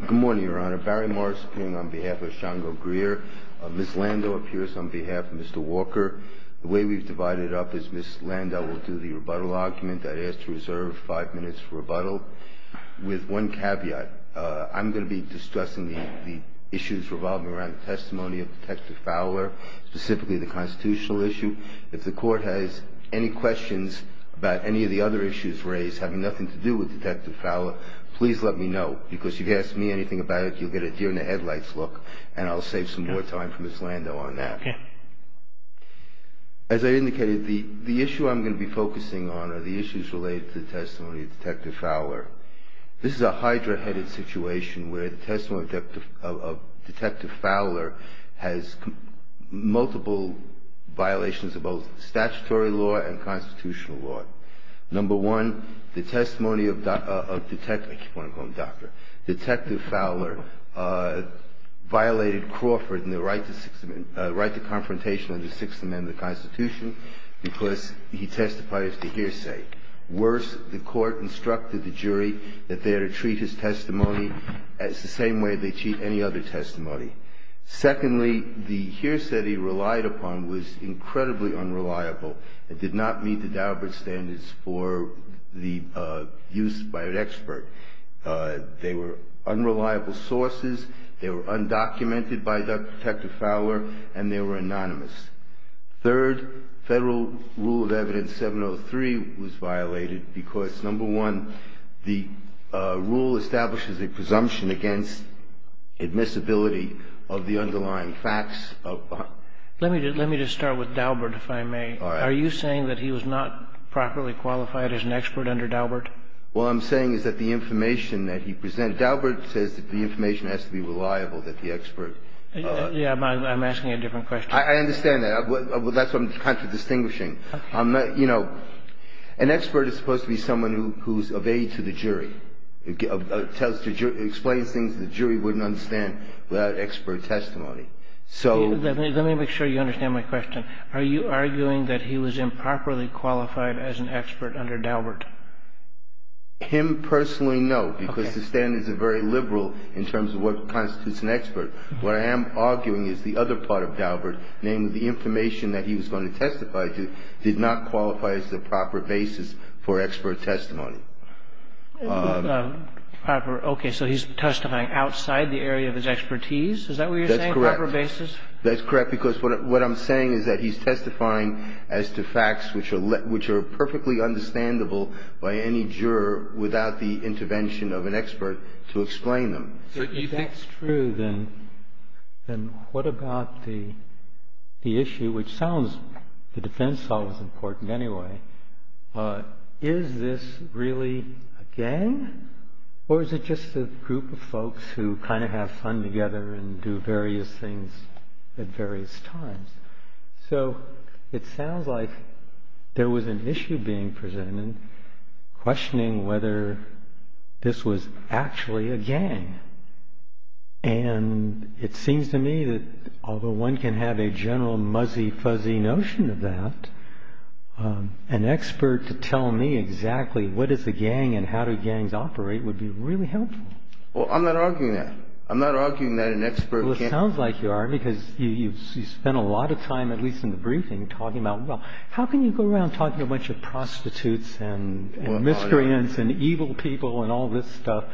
Good morning, Your Honor. Barry Marks speaking on behalf of Shango Greer. Ms. Lando appears on behalf of Mr. Walker. The way we've divided it up is Ms. Lando will do the rebuttal argument. I'd ask to reserve five minutes for rebuttal with one caveat. I'm going to be discussing the issues revolving around the testimony of Detective Fowler, specifically the constitutional issue. If the Court has any questions about any of the other issues raised having nothing to do with Detective Fowler, please let me know, because if you ask me anything about it, you'll get a deer-in-the-headlights look, and I'll save some more time for Ms. Lando on that. As I indicated, the issue I'm going to be focusing on are the issues related to the testimony of Detective Fowler. This is a hydra-headed situation where the testimony of Detective Fowler has multiple violations of both statutory law and constitutional law. Number one, the testimony of Detective Fowler violated Crawford in the right to confrontation under the Sixth Amendment of the Constitution because he testified as the hearsay. Worse, the Court instructed the jury that they are to treat his testimony as the same way they treat any other testimony. Secondly, the hearsay he relied upon was incredibly unreliable. It did not meet the Daubert standards for the use by an expert. They were unreliable sources, they were undocumented by Detective Fowler, and they were anonymous. Third, Federal Rule of Evidence 703 was violated because, number one, the rule establishes a presumption against admissibility of the underlying facts. Let me just start with Daubert, if I may. All right. Are you saying that he was not properly qualified as an expert under Daubert? What I'm saying is that the information that he presented, Daubert says that the information has to be reliable, that the expert. I'm asking a different question. I understand that. That's what I'm kind of distinguishing. I'm not, you know, an expert is supposed to be someone who's of aid to the jury, explains things that the jury wouldn't understand without expert testimony. So. Let me make sure you understand my question. Are you arguing that he was improperly qualified as an expert under Daubert? Him personally, no, because the standards are very liberal in terms of what constitutes an expert. What I am arguing is the other part of Daubert, namely the information that he was going to testify to did not qualify as the proper basis for expert testimony. Proper. Okay. So he's testifying outside the area of his expertise? Is that what you're saying? That's correct. Proper basis? That's correct, because what I'm saying is that he's testifying as to facts which are perfectly understandable by any juror without the intervention of an expert to explain them. If that's true, then what about the issue, which sounds, the defense is always important anyway. Is this really a gang? Or is it just a group of folks who kind of have fun together and do various things at various times? So it sounds like there was an issue being presented, questioning whether this was actually a gang. And it seems to me that although one can have a general muzzy, fuzzy notion of that, an expert to tell me exactly what is a gang and how do gangs operate would be really helpful. Well, I'm not arguing that. I'm not arguing that an expert can't. It sounds like you are, because you've spent a lot of time, at least in the briefing, talking about, well, how can you go around talking to a bunch of prostitutes and miscreants and evil people and all this stuff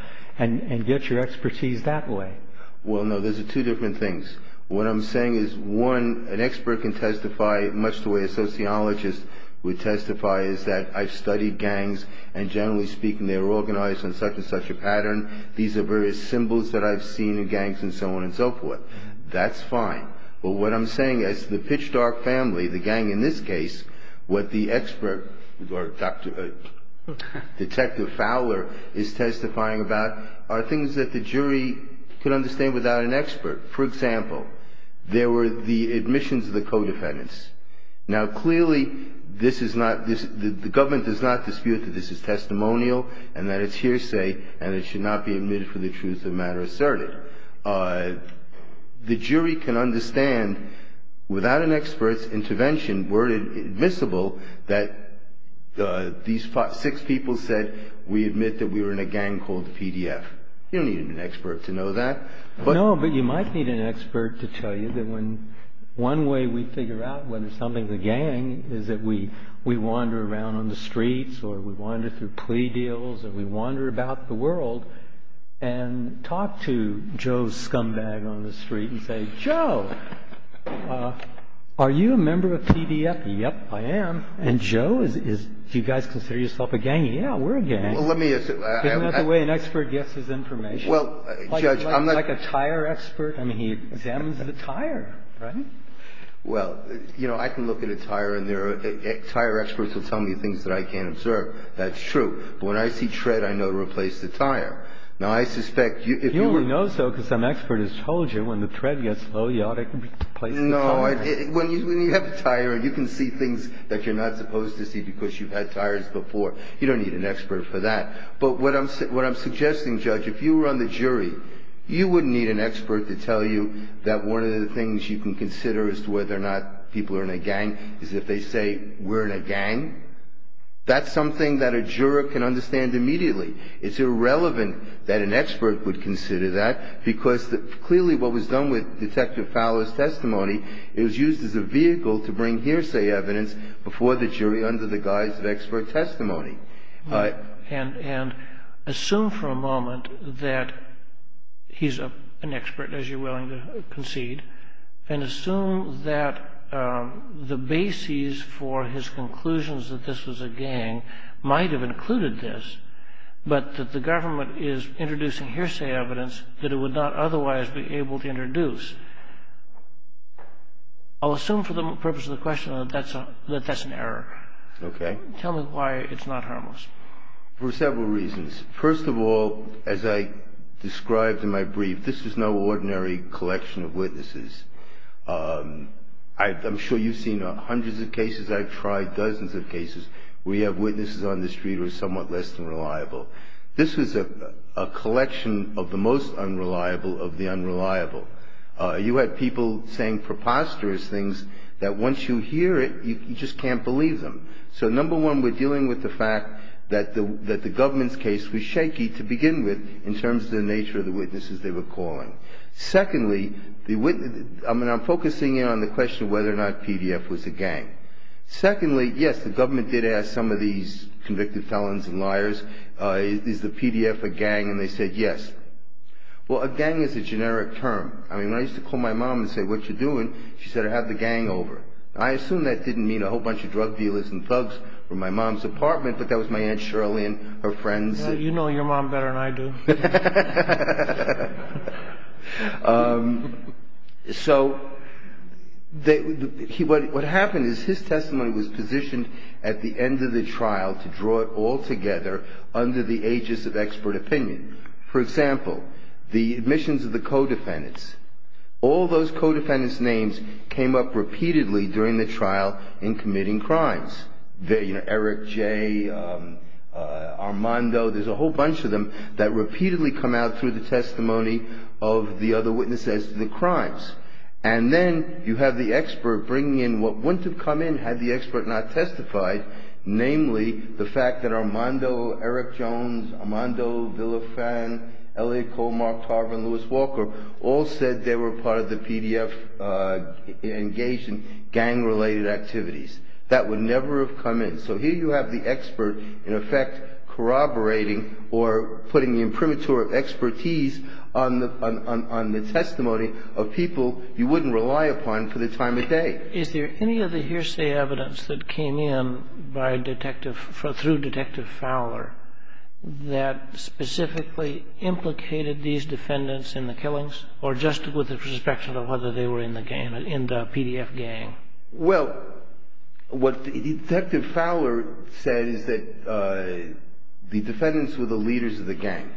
and get your expertise that way? Well, no, those are two different things. What I'm saying is, one, an expert can testify much the way a sociologist would testify is that I've studied gangs, and generally speaking, they're organized in such and such a pattern. These are various symbols that I've seen in gangs and so on and so forth. That's fine. But what I'm saying is the Pitch Dark family, the gang in this case, what the expert or Detective Fowler is testifying about are things that the jury could understand without an expert. For example, there were the admissions of the co-defendants. Now, clearly, this is not – the government does not dispute that this is testimonial and that it's hearsay and it should not be admitted for the truth of the matter asserted. The jury can understand without an expert's intervention were it admissible that these six people said we admit that we were in a gang called PDF. You don't need an expert to know that. No, but you might need an expert to tell you that when – one way we figure out whether something's a gang is that we wander around on the streets or we wander through plea deals or we wander about the world and talk to Joe's scumbag on the street and say, Joe, are you a member of PDF? Yep, I am. And Joe is, do you guys consider yourself a gang? Yeah, we're a gang. Well, let me – Isn't that the way an expert guesses information? Well, Judge, I'm not – Like a tire expert. I mean, he examines the tire, right? Well, you know, I can look at a tire and there are – tire experts will tell me things that I can't observe. That's true. But when I see tread, I know to replace the tire. Now, I suspect if you were – You know so because some expert has told you when the tread gets low, you ought to replace the tire. No. When you have a tire and you can see things that you're not supposed to see because you've had tires before, you don't need an expert for that. But what I'm suggesting, Judge, if you were on the jury, you wouldn't need an expert to tell you that one of the things you can consider as to whether or not people are in a gang is if they say, we're in a gang. That's something that a juror can understand immediately. It's irrelevant that an expert would consider that because clearly what was done with Detective Fowler's testimony, it was used as a vehicle to bring hearsay evidence before the jury under the guise of expert testimony. And assume for a moment that he's an expert, as you're willing to concede, and assume that the basis for his conclusions that this was a gang might have included this, but that the government is introducing hearsay evidence that it would not otherwise be able to introduce. I'll assume for the purpose of the question that that's an error. Okay. Tell me why it's not harmless. For several reasons. First of all, as I described in my brief, this is no ordinary collection of witnesses. I'm sure you've seen hundreds of cases. I've tried dozens of cases where you have witnesses on the street who are somewhat less than reliable. This was a collection of the most unreliable of the unreliable. You had people saying preposterous things that once you hear it, you just can't believe them. So number one, we're dealing with the fact that the government's case was shaky to begin with in terms of the nature of the witnesses they were calling. Secondly, I'm focusing in on the question of whether or not PDF was a gang. Secondly, yes, the government did ask some of these convicted felons and liars, is the PDF a gang, and they said yes. Well, a gang is a generic term. I mean, when I used to call my mom and say, what you doing, she said, I have the gang over. I assume that didn't mean a whole bunch of drug dealers and thugs from my mom's apartment, but that was my Aunt Shirley and her friends. You know your mom better than I do. So what happened is his testimony was positioned at the end of the trial to draw it all together under the aegis of expert opinion. For example, the admissions of the co-defendants. All those co-defendants' names came up repeatedly during the trial in committing crimes. You know, Eric J., Armando, there's a whole bunch of them that repeatedly come out through the testimony of the other witnesses to the crimes. And then you have the expert bringing in what wouldn't have come in had the expert not testified, namely the fact that Armando, Eric Jones, Armando Villafan, Elliot Colmar, Tarver, and Lewis Walker all said they were part of the PDF engaged in gang-related activities. That would never have come in. So here you have the expert, in effect, corroborating or putting the imprimatur of expertise on the testimony of people you wouldn't rely upon for the time of day. Is there any other hearsay evidence that came in through Detective Fowler that specifically implicated these defendants in the killings or just with the perspective of whether they were in the PDF gang? Well, what Detective Fowler said is that the defendants were the leaders of the gang.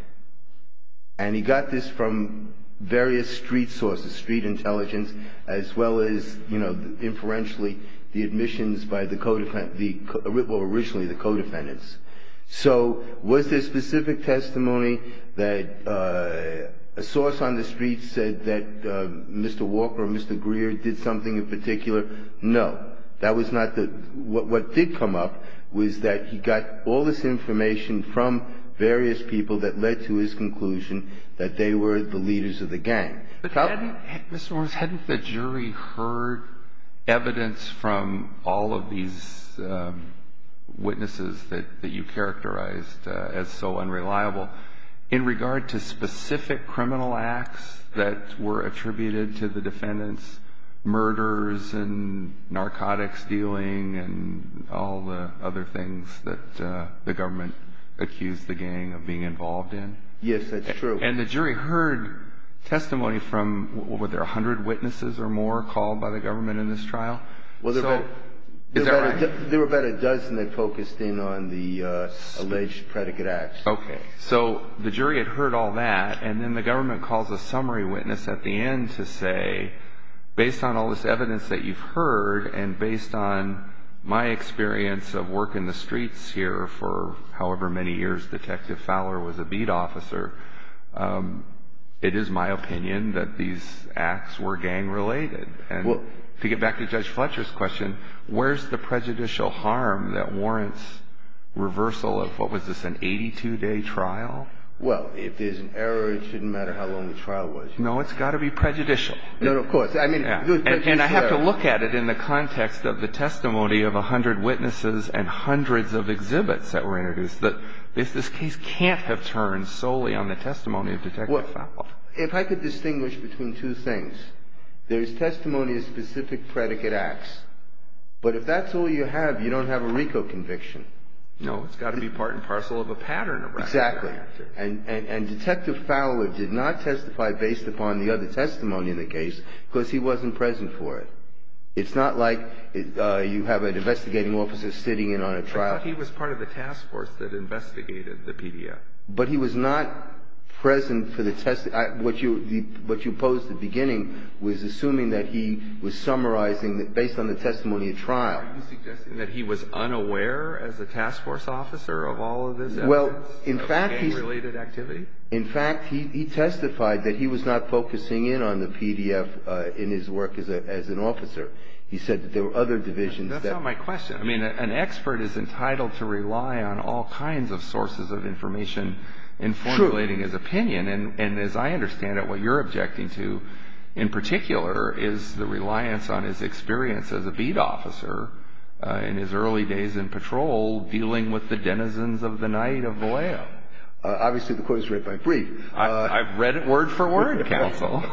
And he got this from various street sources, street intelligence, as well as, you know, inferentially, the admissions by the co-defendants, well, originally the co-defendants. So was there specific testimony that a source on the street said that Mr. Walker or Mr. Greer did something in particular? No. That was not the – what did come up was that he got all this information from various people that led to his conclusion that they were the leaders of the gang. But hadn't the jury heard evidence from all of these witnesses that you characterized as so unreliable in regard to specific criminal acts that were attributed to the defendants, murders and narcotics dealing and all the other things that the government accused the gang of being involved in? Yes, that's true. And the jury heard testimony from – were there 100 witnesses or more called by the government in this trial? Well, there were about a dozen that focused in on the alleged predicate acts. Okay. So the jury had heard all that, and then the government calls a summary witness at the end to say, based on all this evidence that you've heard and based on my experience of working the streets here for however many years Detective Fowler was a beat officer, it is my opinion that these acts were gang-related. And to get back to Judge Fletcher's question, where's the prejudicial harm that warrants reversal of – what was this, an 82-day trial? Well, if there's an error, it shouldn't matter how long the trial was. No, it's got to be prejudicial. No, of course. And I have to look at it in the context of the testimony of 100 witnesses and hundreds of exhibits that were introduced. This case can't have turned solely on the testimony of Detective Fowler. If I could distinguish between two things, there's testimony of specific predicate acts, but if that's all you have, you don't have a RICO conviction. No, it's got to be part and parcel of a pattern of record. Exactly. And Detective Fowler did not testify based upon the other testimony in the case because he wasn't present for it. It's not like you have an investigating officer sitting in on a trial. But he was part of the task force that investigated the PDF. But he was not present for the – what you posed at the beginning was assuming that he was summarizing based on the testimony of trial. Are you suggesting that he was unaware as a task force officer of all of this evidence? Well, in fact, he testified that he was not focusing in on the PDF in his work as an officer. He said that there were other divisions. That's not my question. I mean, an expert is entitled to rely on all kinds of sources of information in formulating his opinion. And as I understand it, what you're objecting to in particular is the reliance on his experience as a beat officer in his early days in patrol dealing with the denizens of the night of Vallejo. Obviously, the court is right by brief. I've read it word for word, counsel.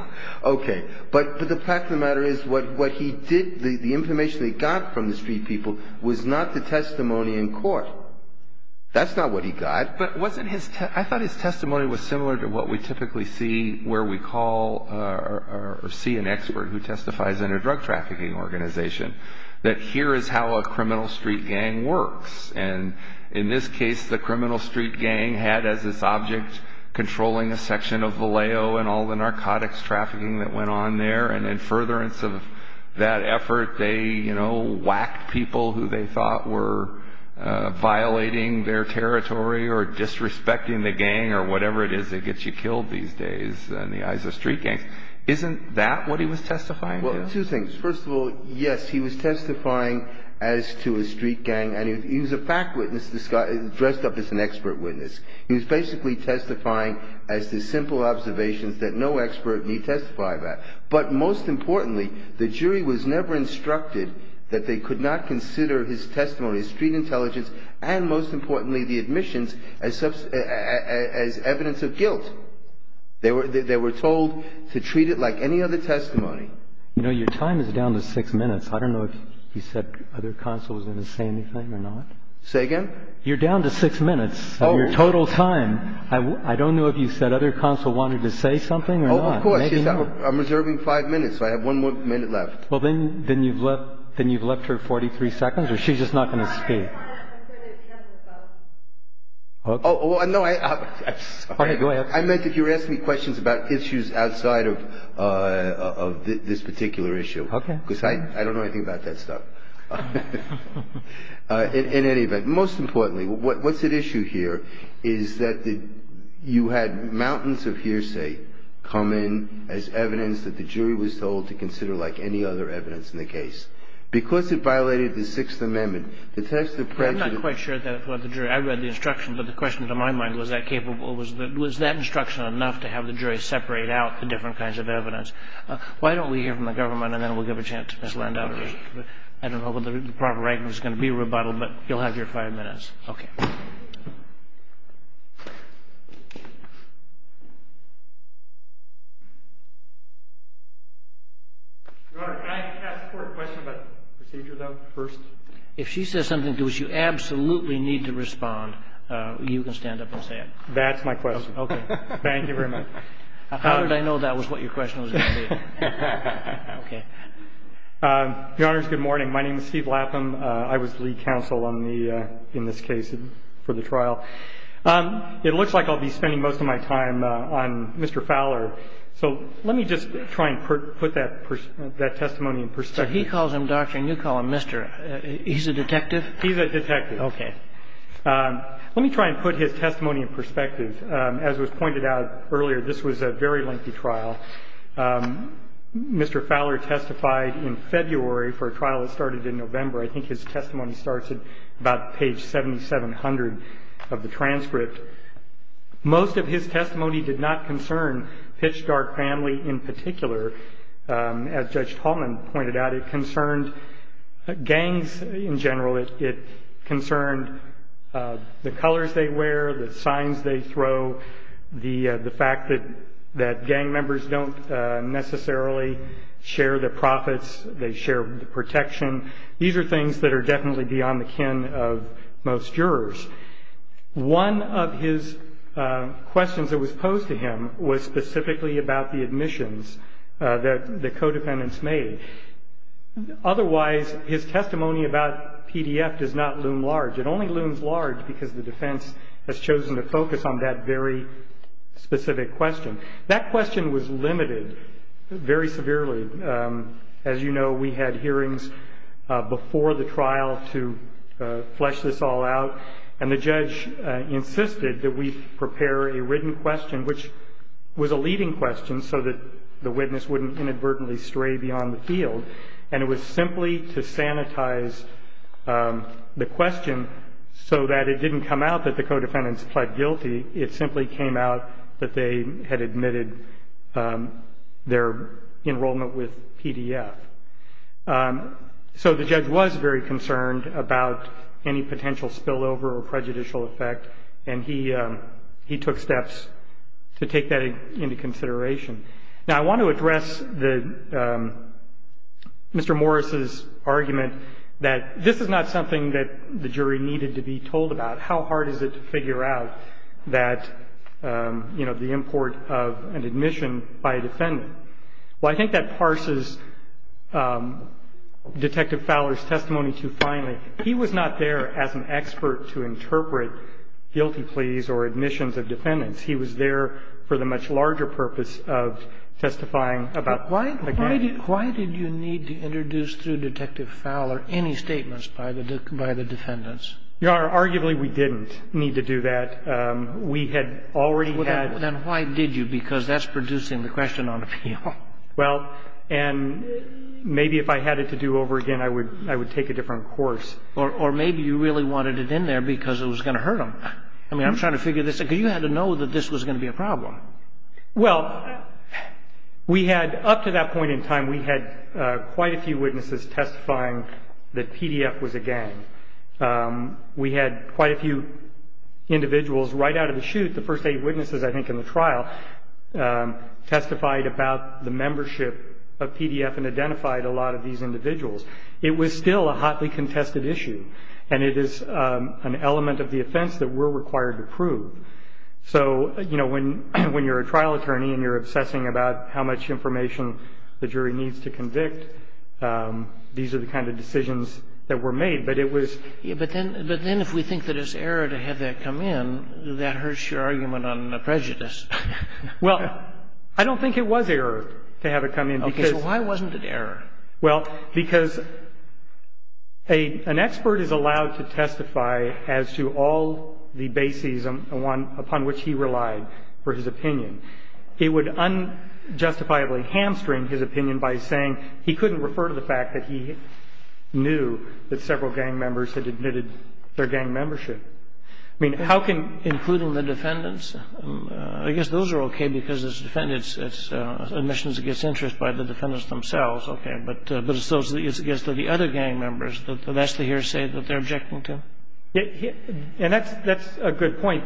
Okay. But the fact of the matter is what he did, the information he got from the street people was not the testimony in court. That's not what he got. But wasn't his – I thought his testimony was similar to what we typically see where we call or see an expert who testifies in a drug trafficking organization, that here is how a criminal street gang works. And in this case, the criminal street gang had as its object controlling a section of Vallejo and all the narcotics trafficking that went on there. And in furtherance of that effort, they, you know, whacked people who they thought were violating their territory or disrespecting the gang or whatever it is that gets you killed these days. In the eyes of street gangs. Isn't that what he was testifying to? Well, two things. First of all, yes, he was testifying as to a street gang. And he was a fact witness dressed up as an expert witness. He was basically testifying as to simple observations that no expert need testify about. But most importantly, the jury was never instructed that they could not consider his testimony, his street intelligence, and most importantly, the admissions as evidence of guilt. They were told to treat it like any other testimony. You know, your time is down to six minutes. I don't know if you said other counsel was going to say anything or not. Say again? You're down to six minutes of your total time. I don't know if you said other counsel wanted to say something or not. Oh, of course. I'm reserving five minutes, so I have one more minute left. Well, then you've left her 43 seconds or she's just not going to speak. I just want to say that he has a gun. Oh, no, I'm sorry. Go ahead. I meant that you were asking me questions about issues outside of this particular issue. Okay. Because I don't know anything about that stuff. In any event, most importantly, what's at issue here is that you had mountains of hearsay come in as evidence that the jury was told to consider like any other evidence in the case. Because it violated the Sixth Amendment, the test of prejudice of the jury. I'm not quite sure about the jury. I read the instruction, but the question to my mind was, was that instruction enough to have the jury separate out the different kinds of evidence? Why don't we hear from the government and then we'll give a chance to Ms. Landau to respond. I don't know whether the proper argument is going to be rebuttal, but you'll have your five minutes. Okay. Your Honor, can I ask a court question about procedure, though, first? If she says something to which you absolutely need to respond, you can stand up and say it. That's my question. Okay. Thank you very much. How did I know that was what your question was going to be? Okay. Your Honors, good morning. My name is Steve Lapham. I was the lead counsel on the — in this case for the trial. It looks like I'll be spending most of my time on Mr. Fowler, so let me just try and put that testimony in perspective. He calls him doctor and you call him mister. He's a detective? He's a detective. Okay. Let me try and put his testimony in perspective. As was pointed out earlier, this was a very lengthy trial. Mr. Fowler testified in February for a trial that started in November. I think his testimony starts at about page 7700 of the transcript. Most of his testimony did not concern Pitchdark family in particular. As Judge Tallman pointed out, it concerned gangs in general. It concerned the colors they wear, the signs they throw, the fact that gang members don't necessarily share the profits. They share the protection. These are things that are definitely beyond the kin of most jurors. One of his questions that was posed to him was specifically about the admissions that the codependents made. Otherwise, his testimony about PDF does not loom large. It only looms large because the defense has chosen to focus on that very specific question. That question was limited very severely. As you know, we had hearings before the trial to flesh this all out. And the judge insisted that we prepare a written question, which was a leading question so that the witness wouldn't inadvertently stray beyond the field. And it was simply to sanitize the question so that it didn't come out that the codependents pled guilty. It simply came out that they had admitted their enrollment with PDF. So the judge was very concerned about any potential spillover or prejudicial effect, and he took steps to take that into consideration. Now, I want to address Mr. Morris's argument that this is not something that the jury needed to be told about. How hard is it to figure out that, you know, the import of an admission by a defendant? Well, I think that parses Detective Fowler's testimony too finely. He was not there as an expert to interpret guilty pleas or admissions of defendants. He was there for the much larger purpose of testifying about the case. Why did you need to introduce through Detective Fowler any statements by the defendants? Your Honor, arguably, we didn't need to do that. We had already had... Then why did you? Because that's producing the question on appeal. Well, and maybe if I had it to do over again, I would take a different course. Or maybe you really wanted it in there because it was going to hurt them. I mean, I'm trying to figure this out. Because you had to know that this was going to be a problem. Well, we had up to that point in time, we had quite a few witnesses testifying that PDF was a gang. We had quite a few individuals right out of the chute, the first eight witnesses, I think, in the trial, testified about the membership of PDF and identified a lot of these individuals. It was still a hotly contested issue. And it is an element of the offense that we're required to prove. So, you know, when you're a trial attorney and you're obsessing about how much information the jury needs to convict, these are the kind of decisions that were made. But it was... But then if we think that it's error to have that come in, that hurts your argument on prejudice. Well, I don't think it was error to have it come in because... Okay. So why wasn't it error? Well, because an expert is allowed to testify as to all the bases upon which he relied for his opinion. It would unjustifiably hamstring his opinion by saying he couldn't refer to the fact that he knew that several gang members had admitted their gang membership. I mean, how can... Including the defendants? I guess those are okay because it's defendants. It's admissions against interest by the defendants themselves. Okay. But it's those against the other gang members. That's the hearsay that they're objecting to. And that's a good point.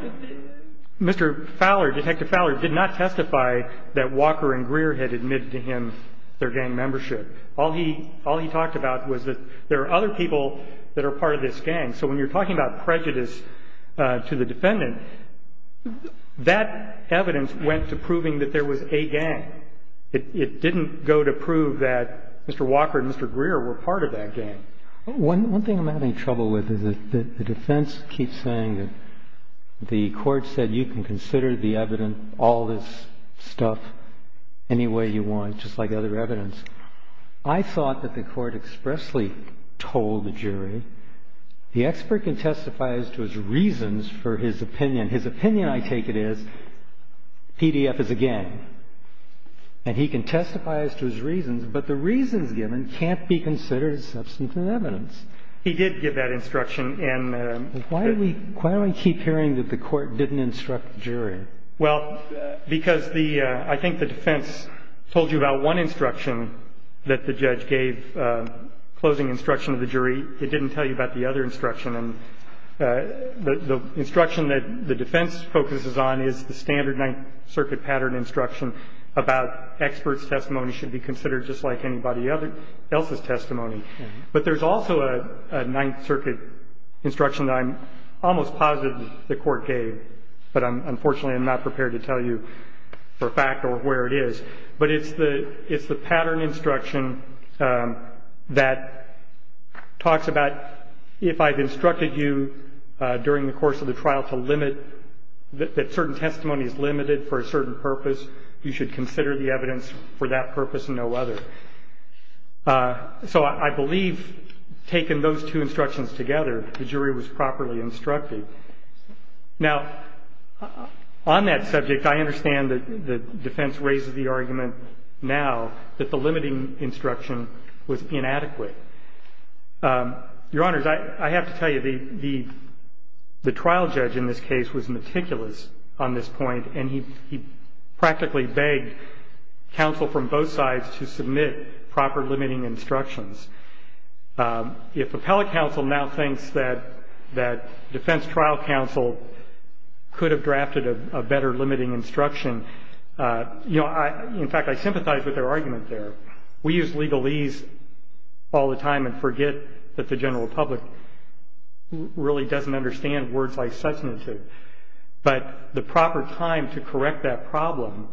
Mr. Fowler, Detective Fowler, did not testify that Walker and Greer had admitted to him their gang membership. All he talked about was that there are other people that are part of this gang. So when you're talking about prejudice to the defendant, that evidence went to proving that there was a gang. It didn't go to prove that Mr. Walker and Mr. Greer were part of that gang. One thing I'm having trouble with is that the defense keeps saying that the court said you can consider the evidence, all this stuff, any way you want, just like other evidence. I thought that the court expressly told the jury the expert can testify as to his reasons for his opinion. His opinion, I take it, is PDF is a gang. And he can testify as to his reasons, but the reasons given can't be considered as substantive evidence. He did give that instruction. And... Why do we keep hearing that the court didn't instruct the jury? Well, because the — I think the defense told you about one instruction that the judge gave, closing instruction of the jury. It didn't tell you about the other instruction. And the instruction that the defense focuses on is the standard Ninth Circuit pattern instruction about experts' testimony should be considered just like anybody else's testimony. But there's also a Ninth Circuit instruction that I'm almost positive the court gave, but unfortunately I'm not prepared to tell you for a fact or where it is. But it's the pattern instruction that talks about if I've instructed you during the course of the trial to limit — that certain testimony is limited for a certain purpose, you should consider the evidence for that purpose and no other. So I believe taking those two instructions together, the jury was properly instructed. Now, on that subject, I understand that the defense raises the argument now that the limiting instruction was inadequate. Your Honors, I have to tell you, the trial judge in this case was meticulous on this point, and he practically begged counsel from both sides to submit proper limiting instructions. If appellate counsel now thinks that defense trial counsel could have drafted a better limiting instruction — you know, in fact, I sympathize with their argument there. We use legalese all the time and forget that the general public really doesn't understand words like substantive. But the proper time to correct that problem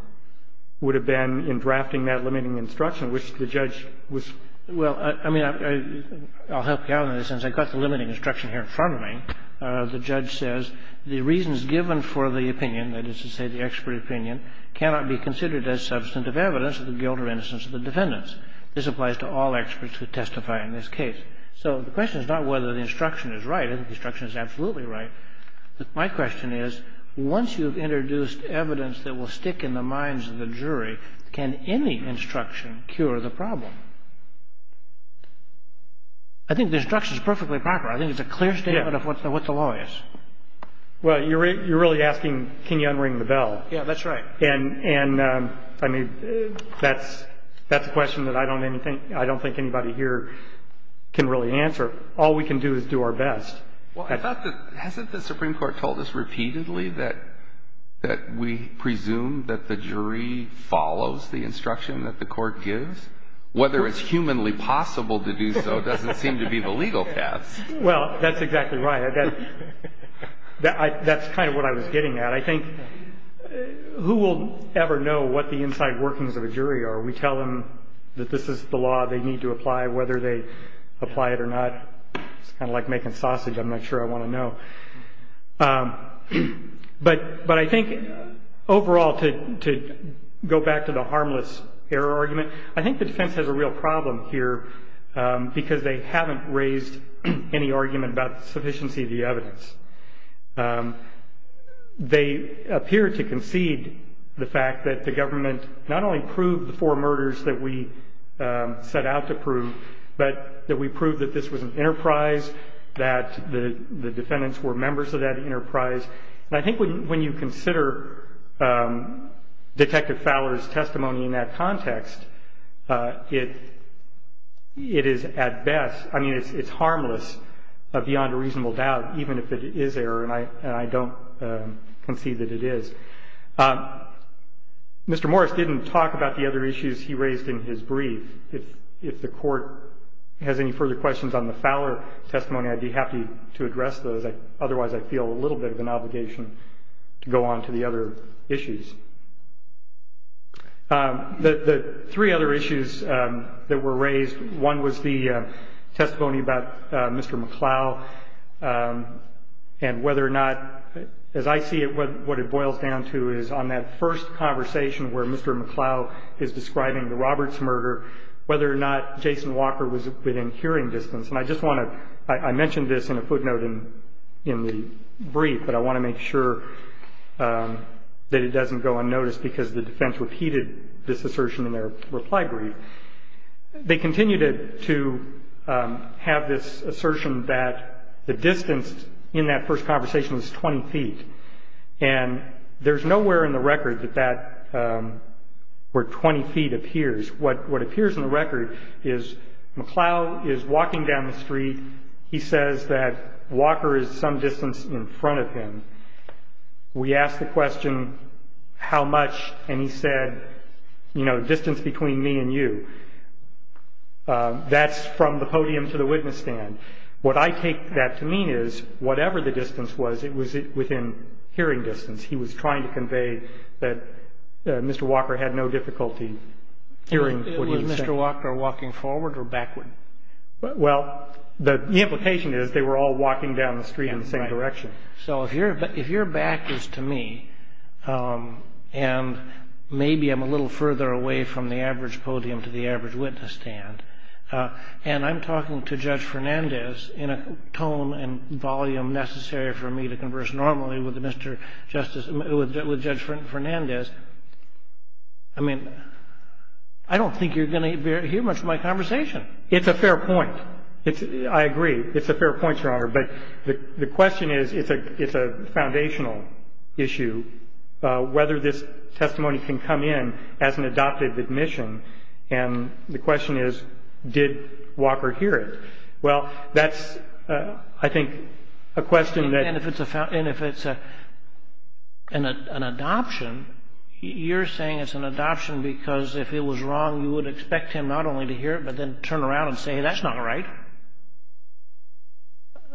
would have been in drafting that limiting instruction, which the judge was — Well, I mean, I'll help you out on this, since I've got the limiting instruction here in front of me. The judge says the reasons given for the opinion, that is to say the expert opinion, cannot be considered as substantive evidence of the guilt or innocence of the defendants. This applies to all experts who testify in this case. So the question is not whether the instruction is right. I think the instruction is absolutely right. My question is, once you've introduced evidence that will stick in the minds of the defendants, does that instruction cure the problem? I think the instruction is perfectly proper. I think it's a clear statement of what the law is. Well, you're really asking, can you unring the bell? Yeah, that's right. And, I mean, that's a question that I don't think anybody here can really answer. All we can do is do our best. Well, hasn't the Supreme Court told us repeatedly that we presume that the jury follows the instruction that the court gives? Whether it's humanly possible to do so doesn't seem to be the legal task. Well, that's exactly right. That's kind of what I was getting at. I think who will ever know what the inside workings of a jury are? We tell them that this is the law they need to apply, whether they apply it or not. It's kind of like making sausage. I'm not sure I want to know. But I think, overall, to go back to the harmless error argument, I think the defense has a real problem here because they haven't raised any argument about the sufficiency of the evidence. They appear to concede the fact that the government not only proved the four murders that we set out to prove, but that we proved that this was an enterprise, that the defendants were members of that enterprise. And I think when you consider Detective Fowler's testimony in that context, it is, at best, I mean, it's harmless beyond a reasonable doubt, even if it is error, and I don't concede that it is. Mr. Morris didn't talk about the other issues he raised in his brief. If the court has any further questions on the Fowler testimony, I'd be happy to address those. Otherwise, I feel a little bit of an obligation to go on to the other issues. The three other issues that were raised, one was the testimony about Mr. McCloud and whether or not, as I see it, what it boils down to is on that first conversation where Mr. McCloud is describing the Roberts murder, whether or not Jason Walker was within hearing distance. And I just want to ñ I mentioned this in a footnote in the brief, but I want to make sure that it doesn't go unnoticed because the defense repeated this assertion in their reply brief. They continued to have this assertion that the distance in that first conversation was 20 feet. And there's nowhere in the record that that ñ where 20 feet appears. What appears in the record is McCloud is walking down the street. He says that Walker is some distance in front of him. We asked the question, how much, and he said, you know, distance between me and you. That's from the podium to the witness stand. What I take that to mean is whatever the distance was, it was within hearing distance. He was trying to convey that Mr. Walker had no difficulty hearing what he was saying. Was Mr. Walker walking forward or backward? Well, the implication is they were all walking down the street in the same direction. So if you're back is to me, and maybe I'm a little further away from the average podium to the average witness stand, and I'm talking to Judge Fernandez in a tone and volume necessary for me to converse normally with Judge Fernandez, I mean, I don't think you're going to hear much of my conversation. It's a fair point. I agree. It's a fair point, Your Honor. But the question is, it's a foundational issue, whether this testimony can come in as an adoptive admission. And the question is, did Walker hear it? Well, that's, I think, a question that- And if it's an adoption, you're saying it's an adoption because if it was wrong, you would expect him not only to hear it but then turn around and say, that's not right.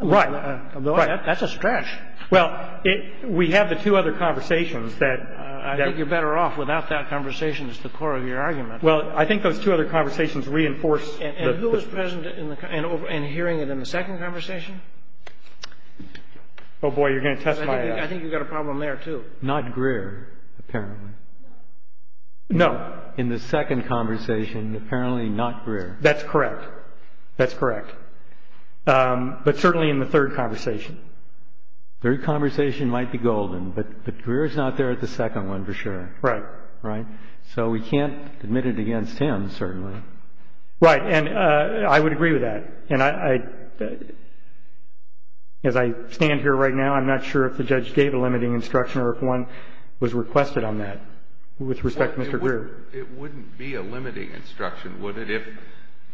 Right. That's a stretch. Well, we have the two other conversations that- I think you're better off without that conversation as the core of your argument. Well, I think those two other conversations reinforce- And who was present and hearing it in the second conversation? Oh, boy, you're going to test my- I think you've got a problem there, too. Not Greer, apparently. No. In the second conversation, apparently not Greer. That's correct. That's correct. But certainly in the third conversation. Third conversation might be golden, but Greer is not there at the second one, for sure. Right. Right? So we can't admit it against him, certainly. Right. And I would agree with that. And as I stand here right now, I'm not sure if the judge gave a limiting instruction or if one was requested on that with respect to Mr. Greer. It wouldn't be a limiting instruction, would it,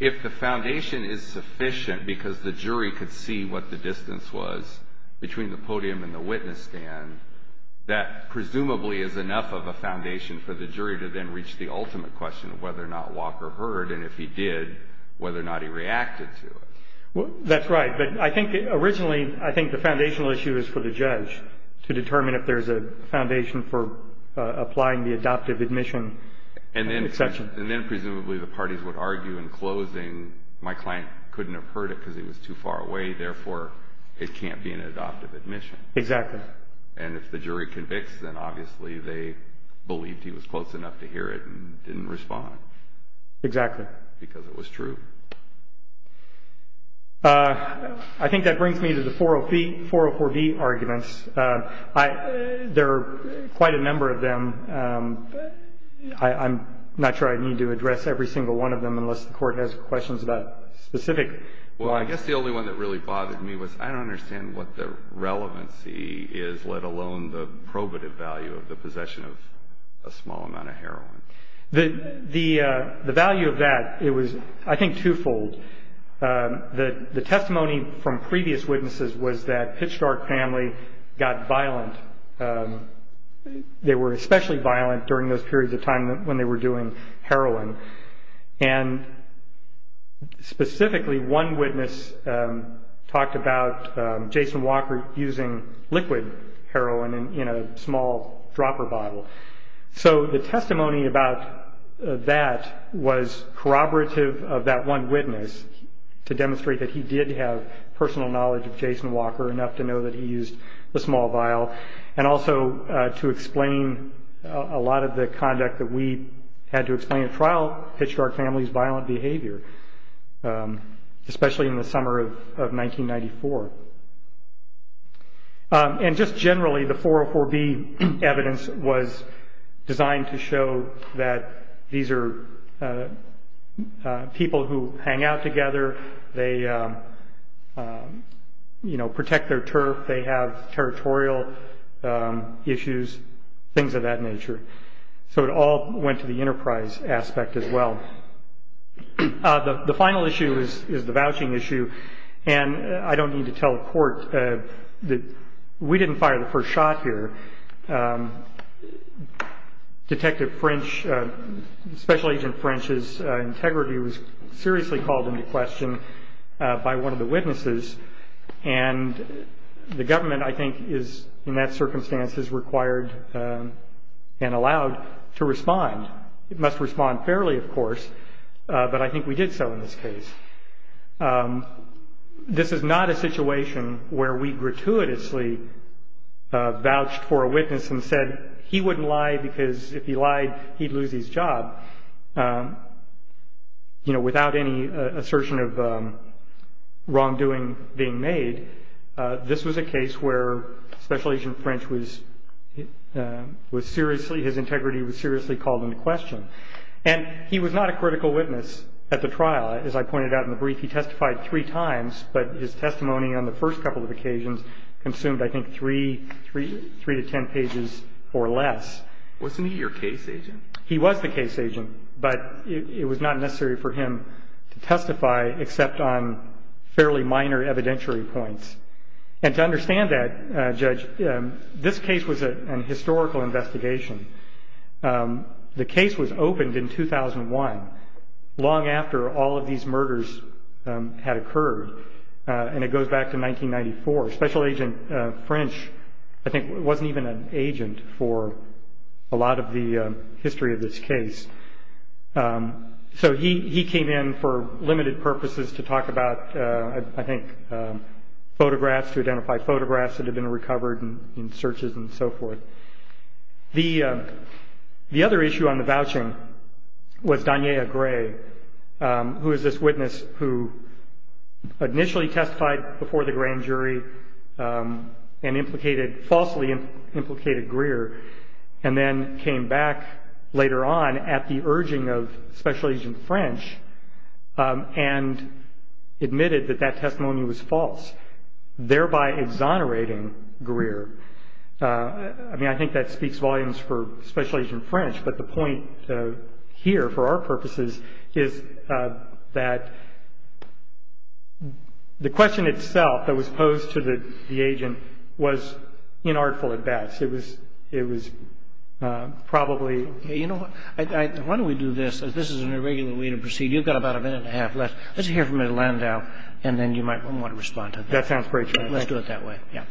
if the foundation is sufficient because the jury could see what the distance was between the podium and the witness stand, that presumably is enough of a foundation for the jury to then reach the ultimate question of whether or not Walker heard, and if he did, whether or not he reacted to it. That's right. But I think originally I think the foundational issue is for the judge to determine if there's a foundation for applying the adoptive admission exception. And then presumably the parties would argue in closing, my client couldn't have heard it because he was too far away, therefore it can't be an adoptive admission. Exactly. And if the jury convicts, then obviously they believed he was close enough to hear it and didn't respond. Exactly. Because it was true. I think that brings me to the 404B arguments. There are quite a number of them. I'm not sure I need to address every single one of them unless the court has questions about specific ones. Well, I guess the only one that really bothered me was I don't understand what the relevancy is, let alone the probative value of the possession of a small amount of heroin. The value of that, it was I think twofold. The testimony from previous witnesses was that Pitchfork family got violent. They were especially violent during those periods of time when they were doing heroin. And specifically one witness talked about Jason Walker using liquid heroin in a small dropper bottle. So the testimony about that was corroborative of that one witness to demonstrate that he did have personal knowledge of Jason Walker, enough to know that he used the small vial, and also to explain a lot of the conduct that we had to explain at trial, Pitchfork family's violent behavior, especially in the summer of 1994. And just generally, the 404B evidence was designed to show that these are people who hang out together. They, you know, protect their turf. They have territorial issues, things of that nature. So it all went to the enterprise aspect as well. The final issue is the vouching issue, and I don't need to tell the court. We didn't fire the first shot here. Detective French, Special Agent French's integrity was seriously called into question by one of the witnesses, and the government, I think, is, in that circumstance, is required and allowed to respond. It must respond fairly, of course, but I think we did so in this case. This is not a situation where we gratuitously vouched for a witness and said he wouldn't lie because if he lied, he'd lose his job, you know, without any assertion of wrongdoing being made. This was a case where Special Agent French was seriously, his integrity was seriously called into question, and he was not a critical witness at the trial. As I pointed out in the brief, he testified three times, but his testimony on the first couple of occasions consumed, I think, three to ten pages or less. Wasn't he your case agent? He was the case agent, but it was not necessary for him to testify except on fairly minor evidentiary points, and to understand that, Judge, this case was a historical investigation. The case was opened in 2001, long after all of these murders had occurred, and it goes back to 1994. Special Agent French, I think, wasn't even an agent for a lot of the history of this case, so he came in for limited purposes to talk about, I think, photographs, to identify photographs that had been recovered in searches and so forth. The other issue on the vouching was Donyea Gray, who is this witness who initially testified before the grand jury and falsely implicated Greer and then came back later on at the urging of Special Agent French and admitted that that testimony was false, thereby exonerating Greer. I mean, I think that speaks volumes for Special Agent French, but the point here for our purposes is that the question itself that was posed to the agent was inartful at best. It was probably – Okay. You know what? Why don't we do this? This is an irregular way to proceed. You've got about a minute and a half left. Let's hear from Elandow, and then you might want to respond to that. That sounds great to me. Let's do it that way. Yeah.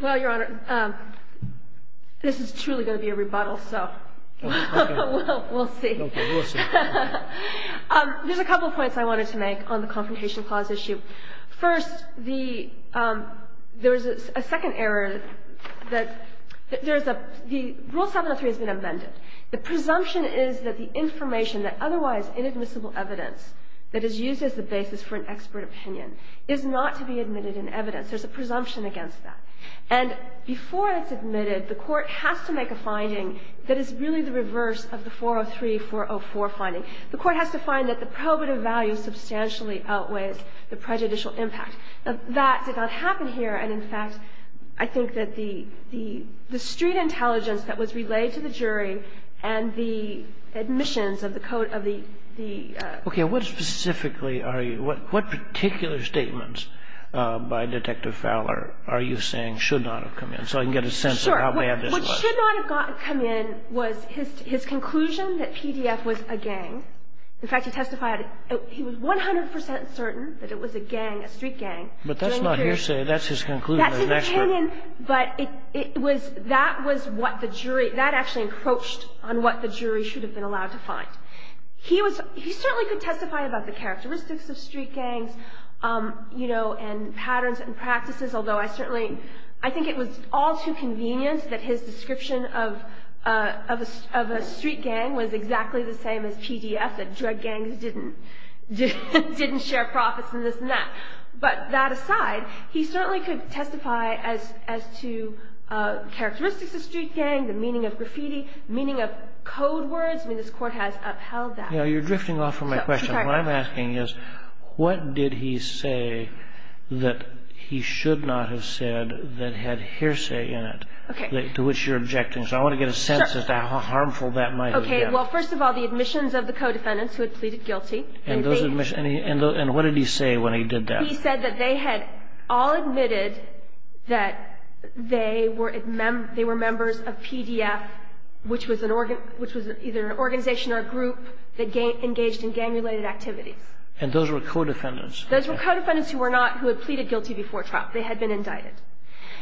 Well, Your Honor, this is truly going to be a rebuttal, so we'll see. Okay. We'll see. There's a couple of points I wanted to make on the Confrontation Clause issue. First, the – there's a second error that there's a – the Rule 703 has been amended. The presumption is that the information, that otherwise inadmissible evidence, that is used as the basis for an expert opinion, is not to be admitted in evidence. There's a presumption against that. And before it's admitted, the Court has to make a finding that is really the reverse of the 403-404 finding. The Court has to find that the probative value substantially outweighs the prejudicial impact. That did not happen here. And, in fact, I think that the street intelligence that was relayed to the jury and the admissions of the – Okay. What specifically are you – what particular statements by Detective Fowler are you saying should not have come in, so I can get a sense of how bad it was? Sure. What should not have come in was his conclusion that PDF was a gang. In fact, he testified – he was 100 percent certain that it was a gang, a street gang. But that's not hearsay. That's his conclusion as an expert. That's his opinion, but it was – that was what the jury – that actually encroached on what the jury should have been allowed to find. He was – he certainly could testify about the characteristics of street gangs, you know, and patterns and practices, although I certainly – I think it was all too convenient that his description of a street gang was exactly the same as PDF, that drug gangs didn't share profits and this and that. But that aside, he certainly could testify as to characteristics of street gangs, the meaning of graffiti, meaning of code words. I mean, this Court has upheld that. You know, you're drifting off from my question. I'm sorry. What I'm asking is, what did he say that he should not have said that had hearsay in it? Okay. To which you're objecting. So I want to get a sense of how harmful that might have been. Okay. Well, first of all, the admissions of the co-defendants who had pleaded guilty. And what did he say when he did that? He said that they had all admitted that they were members of PDF, which was either an organization or a group that engaged in gang-related activities. And those were co-defendants? Those were co-defendants who were not – who had pleaded guilty before trial. They had been indicted.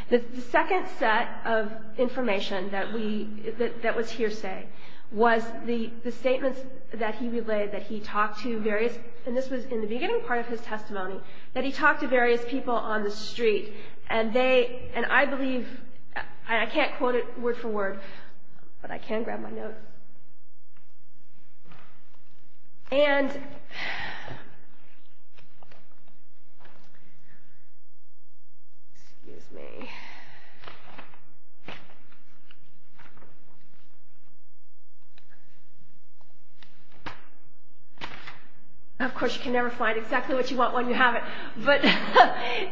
The second set of information that we – that was hearsay was the statements that he relayed, that he talked to various – and this was in the beginning part of his testimony – that he talked to various people on the street. And they – and I believe – I can't quote it word for word, but I can grab my note. And – excuse me. Of course, you can never find exactly what you want when you have it. But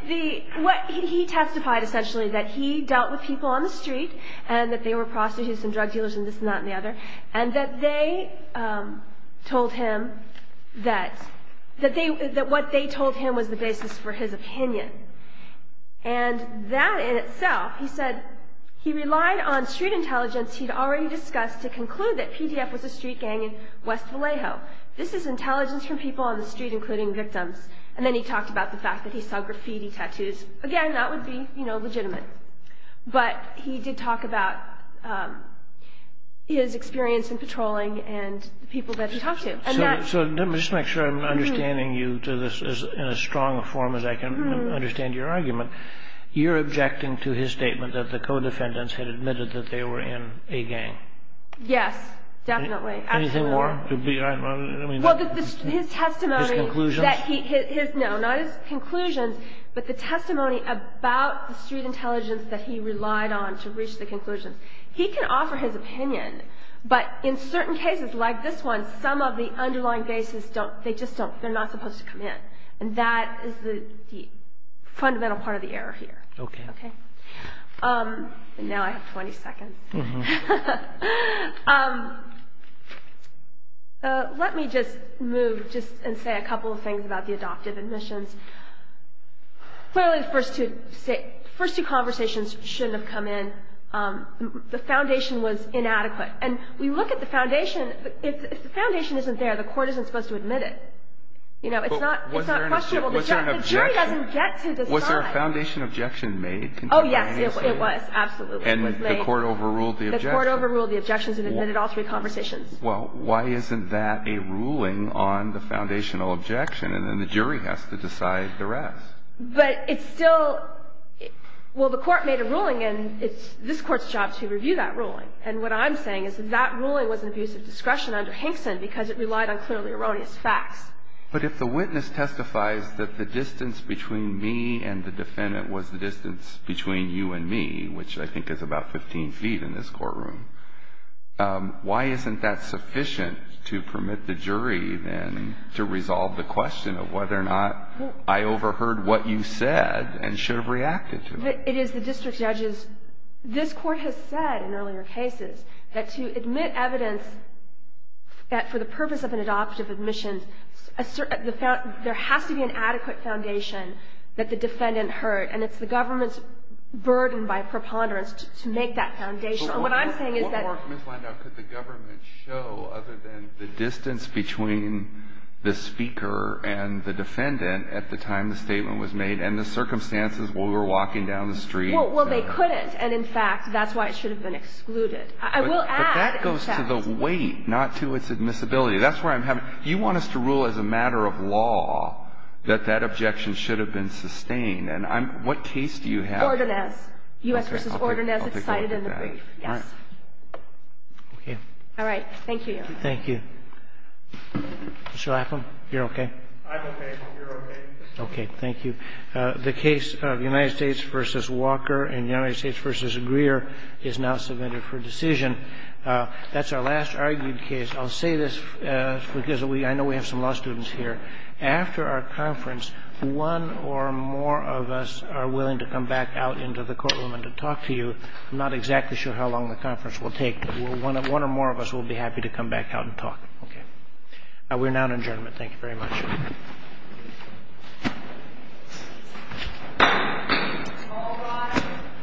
the – what – he testified, essentially, that he dealt with people on the street and that they were prostitutes and drug dealers and this and that and the other. And that they told him that – that they – that what they told him was the basis for his opinion. And that in itself – he said he relied on street intelligence he'd already discussed to conclude that PDF was a street gang in West Vallejo. This is intelligence from people on the street, including victims. And then he talked about the fact that he saw graffiti, tattoos. Again, that would be, you know, legitimate. But he did talk about his experience in patrolling and the people that he talked to. And that – So let me just make sure I'm understanding you to this in as strong a form as I can understand your argument. You're objecting to his statement that the co-defendants had admitted that they were in a gang. Yes, definitely. Absolutely. Anything more? Well, his testimony – His conclusions? No, not his conclusions, but the testimony about the street intelligence that he relied on to reach the conclusions. He can offer his opinion, but in certain cases like this one, some of the underlying bases don't – they just don't – they're not supposed to come in. And that is the fundamental part of the error here. Okay. Okay? And now I have 20 seconds. Let me just move just and say a couple of things about the adoptive admissions. Clearly, the first two conversations shouldn't have come in. The foundation was inadequate. And we look at the foundation. If the foundation isn't there, the court isn't supposed to admit it. You know, it's not questionable. The jury doesn't get to decide. Was there a foundation objection made? Oh, yes, it was. Absolutely. And the court overruled the objections. The court overruled the objections and admitted all three conversations. Well, why isn't that a ruling on the foundational objection? And then the jury has to decide the rest. But it's still – well, the court made a ruling, and it's this Court's job to review that ruling. And what I'm saying is that that ruling was an abuse of discretion under Hinkson because it relied on clearly erroneous facts. But if the witness testifies that the distance between me and the defendant was the distance between you and me, which I think is about 15 feet in this courtroom, why isn't that sufficient to permit the jury then to resolve the question of whether or not I overheard what you said and should have reacted to it? It is the district judge's – this Court has said in earlier cases that to admit evidence that for the purpose of an adoptive admission, there has to be an adequate foundation that the defendant heard. And it's the government's burden by preponderance to make that foundation. And what I'm saying is that – But what more could the government show other than the distance between the speaker and the defendant at the time the statement was made and the circumstances when we were walking down the street? Well, they couldn't. And, in fact, that's why it should have been excluded. I will add – But that goes to the weight, not to its admissibility. That's where I'm having – you want us to rule as a matter of law that that objection should have been sustained. And I'm – what case do you have? Ordonez. U.S. v. Ordonez. It's cited in the brief. All right. Okay. All right. Thank you, Your Honor. Thank you. Mr. Lapham, you're okay? I'm okay. I hope you're okay. Okay. Thank you. The case of United States v. Walker and United States v. Greer is now submitted for decision. That's our last argued case. I'll say this because I know we have some law students here. After our conference, one or more of us are willing to come back out into the courtroom and to talk to you. I'm not exactly sure how long the conference will take, but one or more of us will be happy to come back out and talk. Okay. We're now adjourned. Thank you very much. All rise.